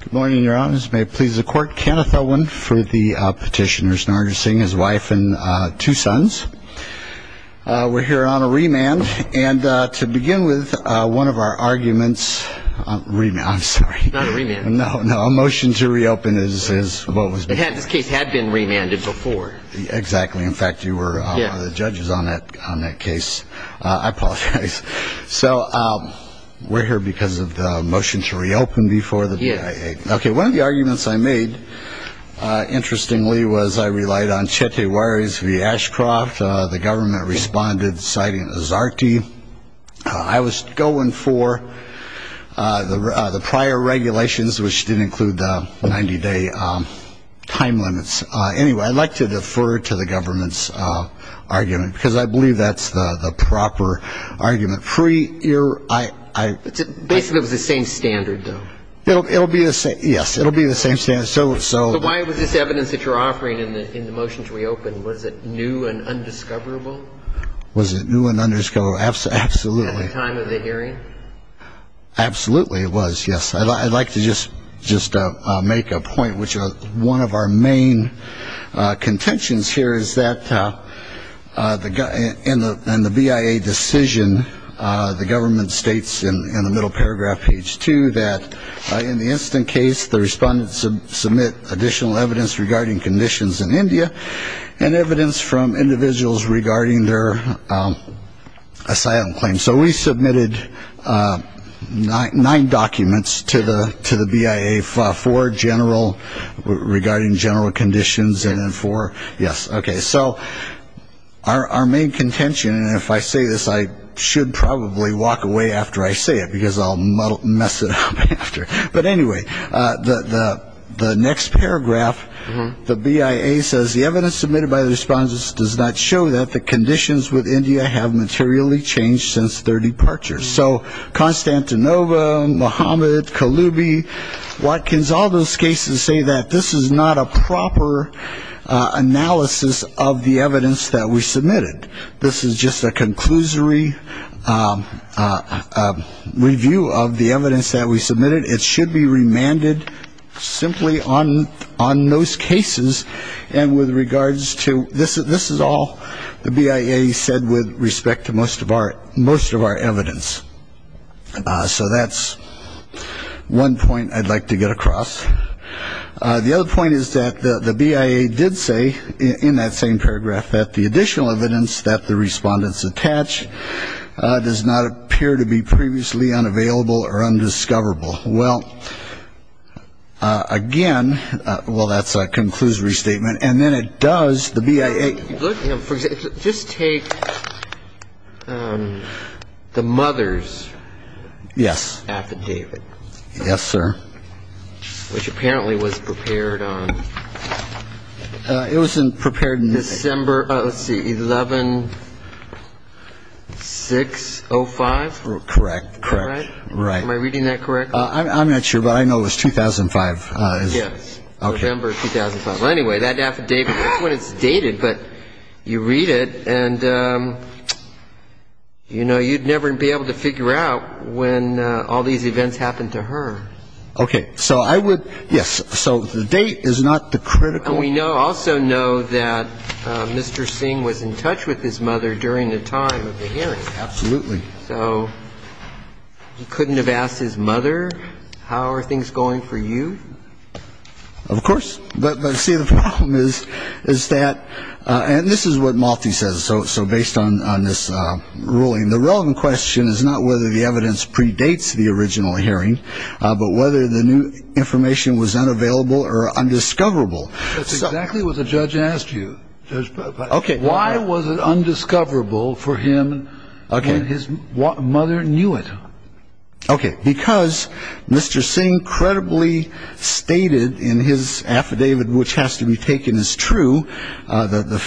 Good morning, Your Honors. May it please the Court, Kenneth Elwin for the petitioners, Nargesingh, his wife and two sons. We're here on a remand, and to begin with, one of our arguments, remand, I'm sorry. Not a remand. No, no, a motion to reopen is what was before. This case had been remanded before. Exactly. In fact, you were one of the judges on that case. I apologize. So we're here because of the motion to reopen before the BIA. Okay. One of the arguments I made, interestingly, was I relied on Chete Waris v. Ashcroft. The government responded, citing Azarte. I was going for the prior regulations, which didn't include the 90-day time limits. Anyway, I'd like to defer to the government's argument, because I believe that's the proper argument. Basically, it was the same standard, though. Yes, it'll be the same standard. So why was this evidence that you're offering in the motion to reopen, was it new and undiscoverable? Was it new and undiscoverable? Absolutely. At the time of the hearing? Absolutely it was, yes. I'd like to just make a point, which one of our main contentions here is that in the BIA decision, the government states in the middle paragraph, page two, that in the incident case, the respondents submit additional evidence regarding conditions in India and evidence from individuals regarding their asylum claim. So we submitted nine documents to the BIA regarding general conditions. So our main contention, and if I say this, I should probably walk away after I say it, because I'll mess it up after. But anyway, the next paragraph, the BIA says, the evidence submitted by the respondents does not show that the conditions with India have materially changed since their departure. So Constantinople, Mohammed, Kaloubi, Watkins, all those cases say that this is not a proper analysis of the evidence that we submitted. This is just a conclusory review of the evidence that we submitted. It should be remanded simply on those cases. And with regards to this, this is all the BIA said with respect to most of our evidence. So that's one point I'd like to get across. The other point is that the BIA did say in that same paragraph that the additional evidence that the respondents attach does not appear to be previously unavailable or undiscoverable. Well, again, well, that's a conclusory statement. And then it does, the BIA. Just take the mother's. Yes. Affidavit. Yes, sir. Which apparently was prepared on. It was prepared in December. Let's see, 11-6-05. Correct. Correct. I'm not sure, but I know it was 2005. Yes. November 2005. Well, anyway, that affidavit, that's when it's dated, but you read it and, you know, you'd never be able to figure out when all these events happened to her. Okay. So I would, yes. So the date is not the critical. And we also know that Mr. Singh was in touch with his mother during the time of the hearing. Absolutely. So he couldn't have asked his mother, how are things going for you? Of course. But, see, the problem is that, and this is what Malti says, so based on this ruling, the relevant question is not whether the evidence predates the original hearing, but whether the new information was unavailable or undiscoverable. That's exactly what the judge asked you. Okay. Why was it undiscoverable for him when his mother knew it? Okay. Because Mr. Singh credibly stated in his affidavit, which has to be taken as true, the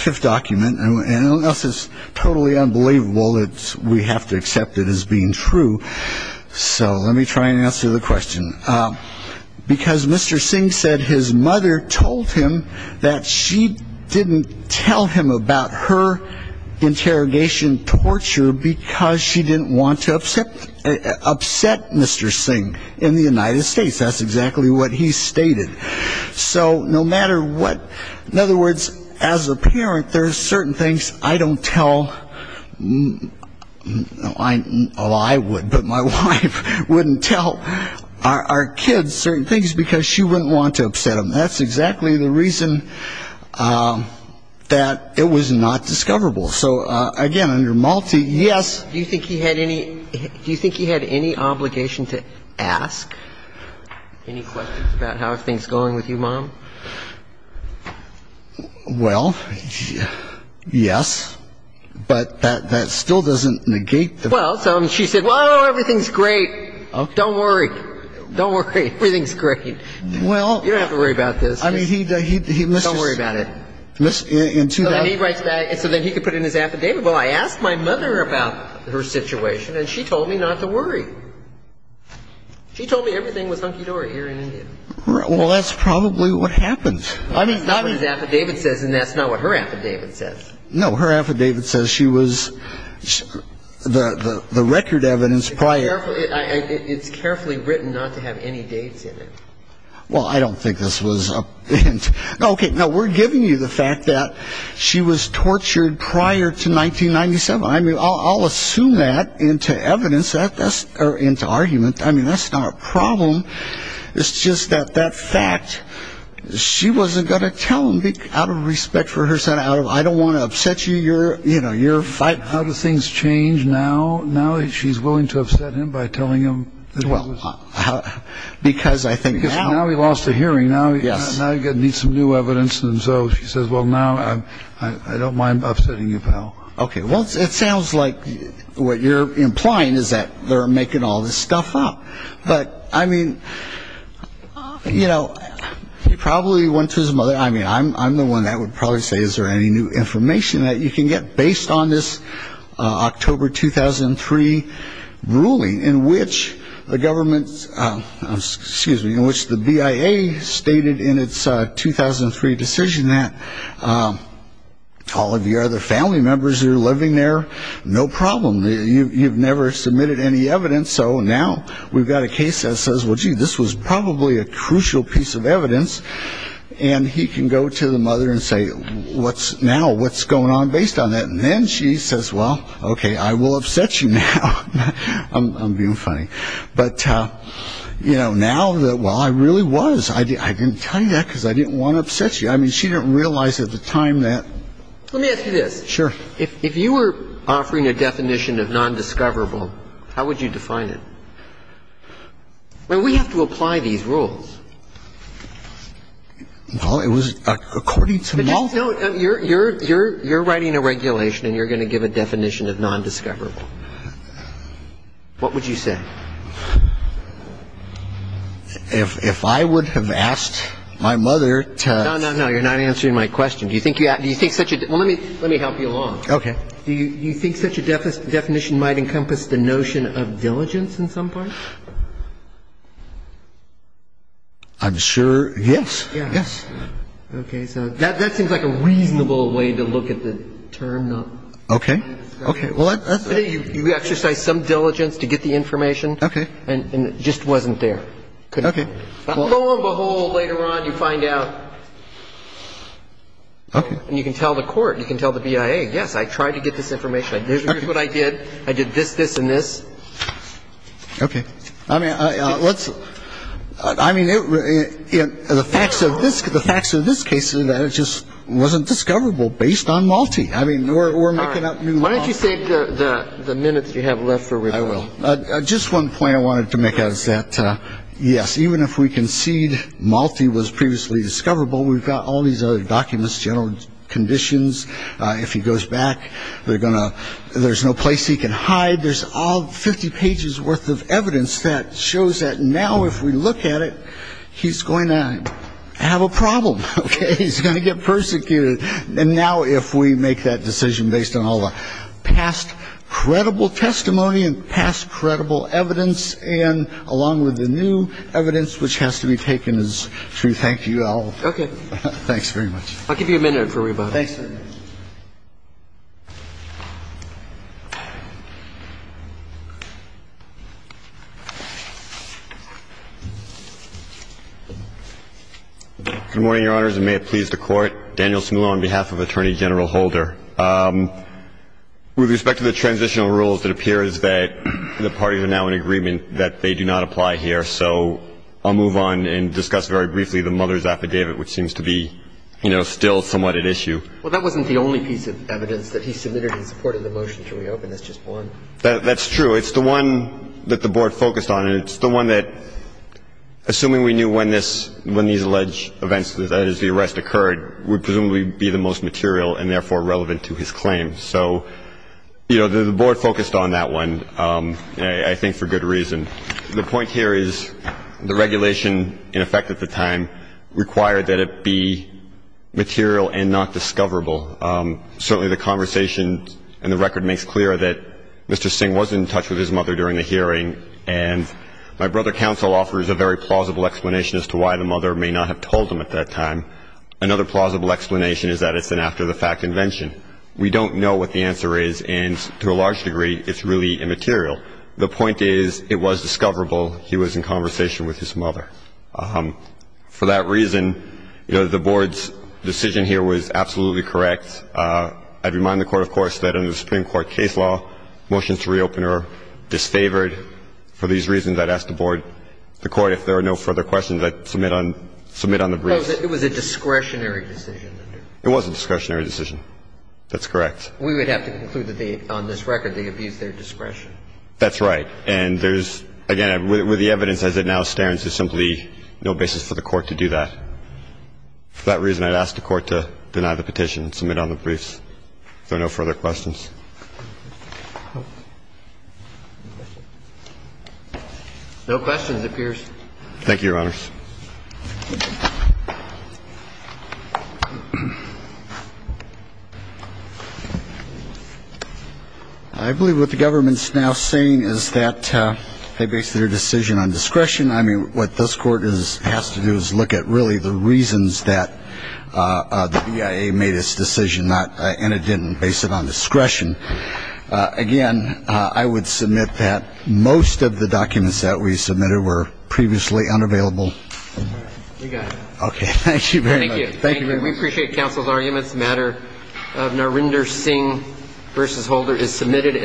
fifth document, and unless it's totally unbelievable, we have to accept it as being true. So let me try and answer the question. Because Mr. Singh said his mother told him that she didn't tell him about her interrogation torture because she didn't want to upset Mr. Singh in the United States. That's exactly what he stated. So no matter what, in other words, as a parent, there are certain things I don't tell, well, I would, but my wife wouldn't tell our kids certain things because she wouldn't want to upset them. That's exactly the reason that it was not discoverable. So, again, under Malti, yes. Do you think he had any obligation to ask any questions about how things are going with you, Mom? Well, yes, but that still doesn't negate the fact. Well, so she said, well, everything's great. Don't worry. Don't worry. Everything's great. You don't have to worry about this. Don't worry about it. So then he could put it in his affidavit. Well, I asked my mother about her situation, and she told me not to worry. She told me everything was hunky-dory here in India. Well, that's probably what happened. It's not what his affidavit says, and that's not what her affidavit says. No, her affidavit says she was the record evidence prior. It's carefully written not to have any dates in it. Well, I don't think this was a hint. Okay, no, we're giving you the fact that she was tortured prior to 1997. I mean, I'll assume that into evidence or into argument. I mean, that's not a problem. It's just that that fact, she wasn't going to tell him out of respect for her son. I don't want to upset you. You're fighting. How do things change now? Now she's willing to upset him by telling him. Because I think now. Because now he lost a hearing. Now he needs some new evidence. And so she says, well, now I don't mind upsetting you, pal. Okay, well, it sounds like what you're implying is that they're making all this stuff up. But, I mean, you know, he probably went to his mother. I mean, I'm the one that would probably say, is there any new information that you can get based on this October 2003 ruling in which the government, excuse me, in which the BIA stated in its 2003 decision that all of your other family members are living there. No problem. You've never submitted any evidence. So now we've got a case that says, well, gee, this was probably a crucial piece of evidence. And he can go to the mother and say, what's now? What's going on based on that? And then she says, well, okay, I will upset you now. I'm being funny. But, you know, now that, well, I really was. I didn't tell you that because I didn't want to upset you. I mean, she didn't realize at the time that. Let me ask you this. Sure. If you were offering a definition of nondiscoverable, how would you define it? I mean, we have to apply these rules. Well, it was according to multiple. You're writing a regulation and you're going to give a definition of nondiscoverable. What would you say? If I would have asked my mother to... No, no, no. You're not answering my question. Do you think such a... Well, let me help you along. Okay. Do you think such a definition might encompass the notion of diligence in some part? I'm sure... Yes. Yes. Okay. So that seems like a reasonable way to look at the term. Okay. Okay. You exercise some diligence to get the information. Okay. And it just wasn't there. Okay. Lo and behold, later on you find out. Okay. And you can tell the court. You can tell the BIA, yes, I tried to get this information. Here's what I did. I did this, this, and this. Okay. I mean, let's... I mean, the facts of this case is that it just wasn't discoverable based on Malti. I mean, we're making up new... Why don't you save the minutes you have left for... I will. Just one point I wanted to make is that, yes, even if we concede Malti was previously discoverable, we've got all these other documents, general conditions. If he goes back, they're going to... there's no place he can hide. There's all 50 pages worth of evidence that shows that now if we look at it, he's going to have a problem. Okay. He's going to get persecuted. And now if we make that decision based on all the past credible testimony and past credible evidence, we're going to have an opportunity to make a decision based on the evidence, and along with the new evidence which has to be taken is true. Thank you. I'll... Okay. Thanks very much. I'll give you a minute for rebuttal. Thanks. Good morning, Your Honors, and may it please the Court. Daniel Smulo on behalf of Attorney General Holder. With respect to the transitional rules, it appears that the parties are now in agreement that they do not apply here, so I'll move on and discuss very briefly the mother's affidavit, which seems to be, you know, still somewhat at issue. Well, that wasn't the only piece of evidence that he submitted in support of the motion to reopen. That's just one. That's true. It's the one that the Board focused on, and it's the one that, assuming we knew when these alleged events, that is, the arrest occurred, would presumably be the most material and, therefore, relevant to his claim. So, you know, the Board focused on that one, I think, for good reason. The point here is the regulation, in effect at the time, required that it be material and not discoverable. Certainly the conversation in the record makes clear that Mr. Singh was in touch with his mother during the hearing, and my brother counsel offers a very plausible explanation as to why the mother may not have told him at that time. Another plausible explanation is that it's an after-the-fact invention. We don't know what the answer is, and to a large degree, it's really immaterial. The point is it was discoverable he was in conversation with his mother. For that reason, you know, the Board's decision here was absolutely correct. I'd remind the Court, of course, that under the Supreme Court case law, motions to reopen are disfavored. For these reasons, I'd ask the Board, the Court, if there are no further questions, I'd submit on the briefs. It was a discretionary decision. It was a discretionary decision. That's correct. We would have to conclude that they, on this record, they abused their discretion. That's right. And there's, again, with the evidence as it now stands, there's simply no basis for the Court to do that. For that reason, I'd ask the Court to deny the petition and submit on the briefs. If there are no further questions. No questions, it appears. Thank you, Your Honors. I believe what the government's now saying is that they based their decision on discretion. I mean, what this Court has to do is look at really the reasons that the BIA made its decision, and it didn't base it on discretion. Again, I would submit that most of the documents that we submitted were previously unavailable. All right. We got it. Okay. Thank you very much. Thank you. Thank you. We appreciate counsel's arguments. The matter of Narinder Singh v. Holder is submitted.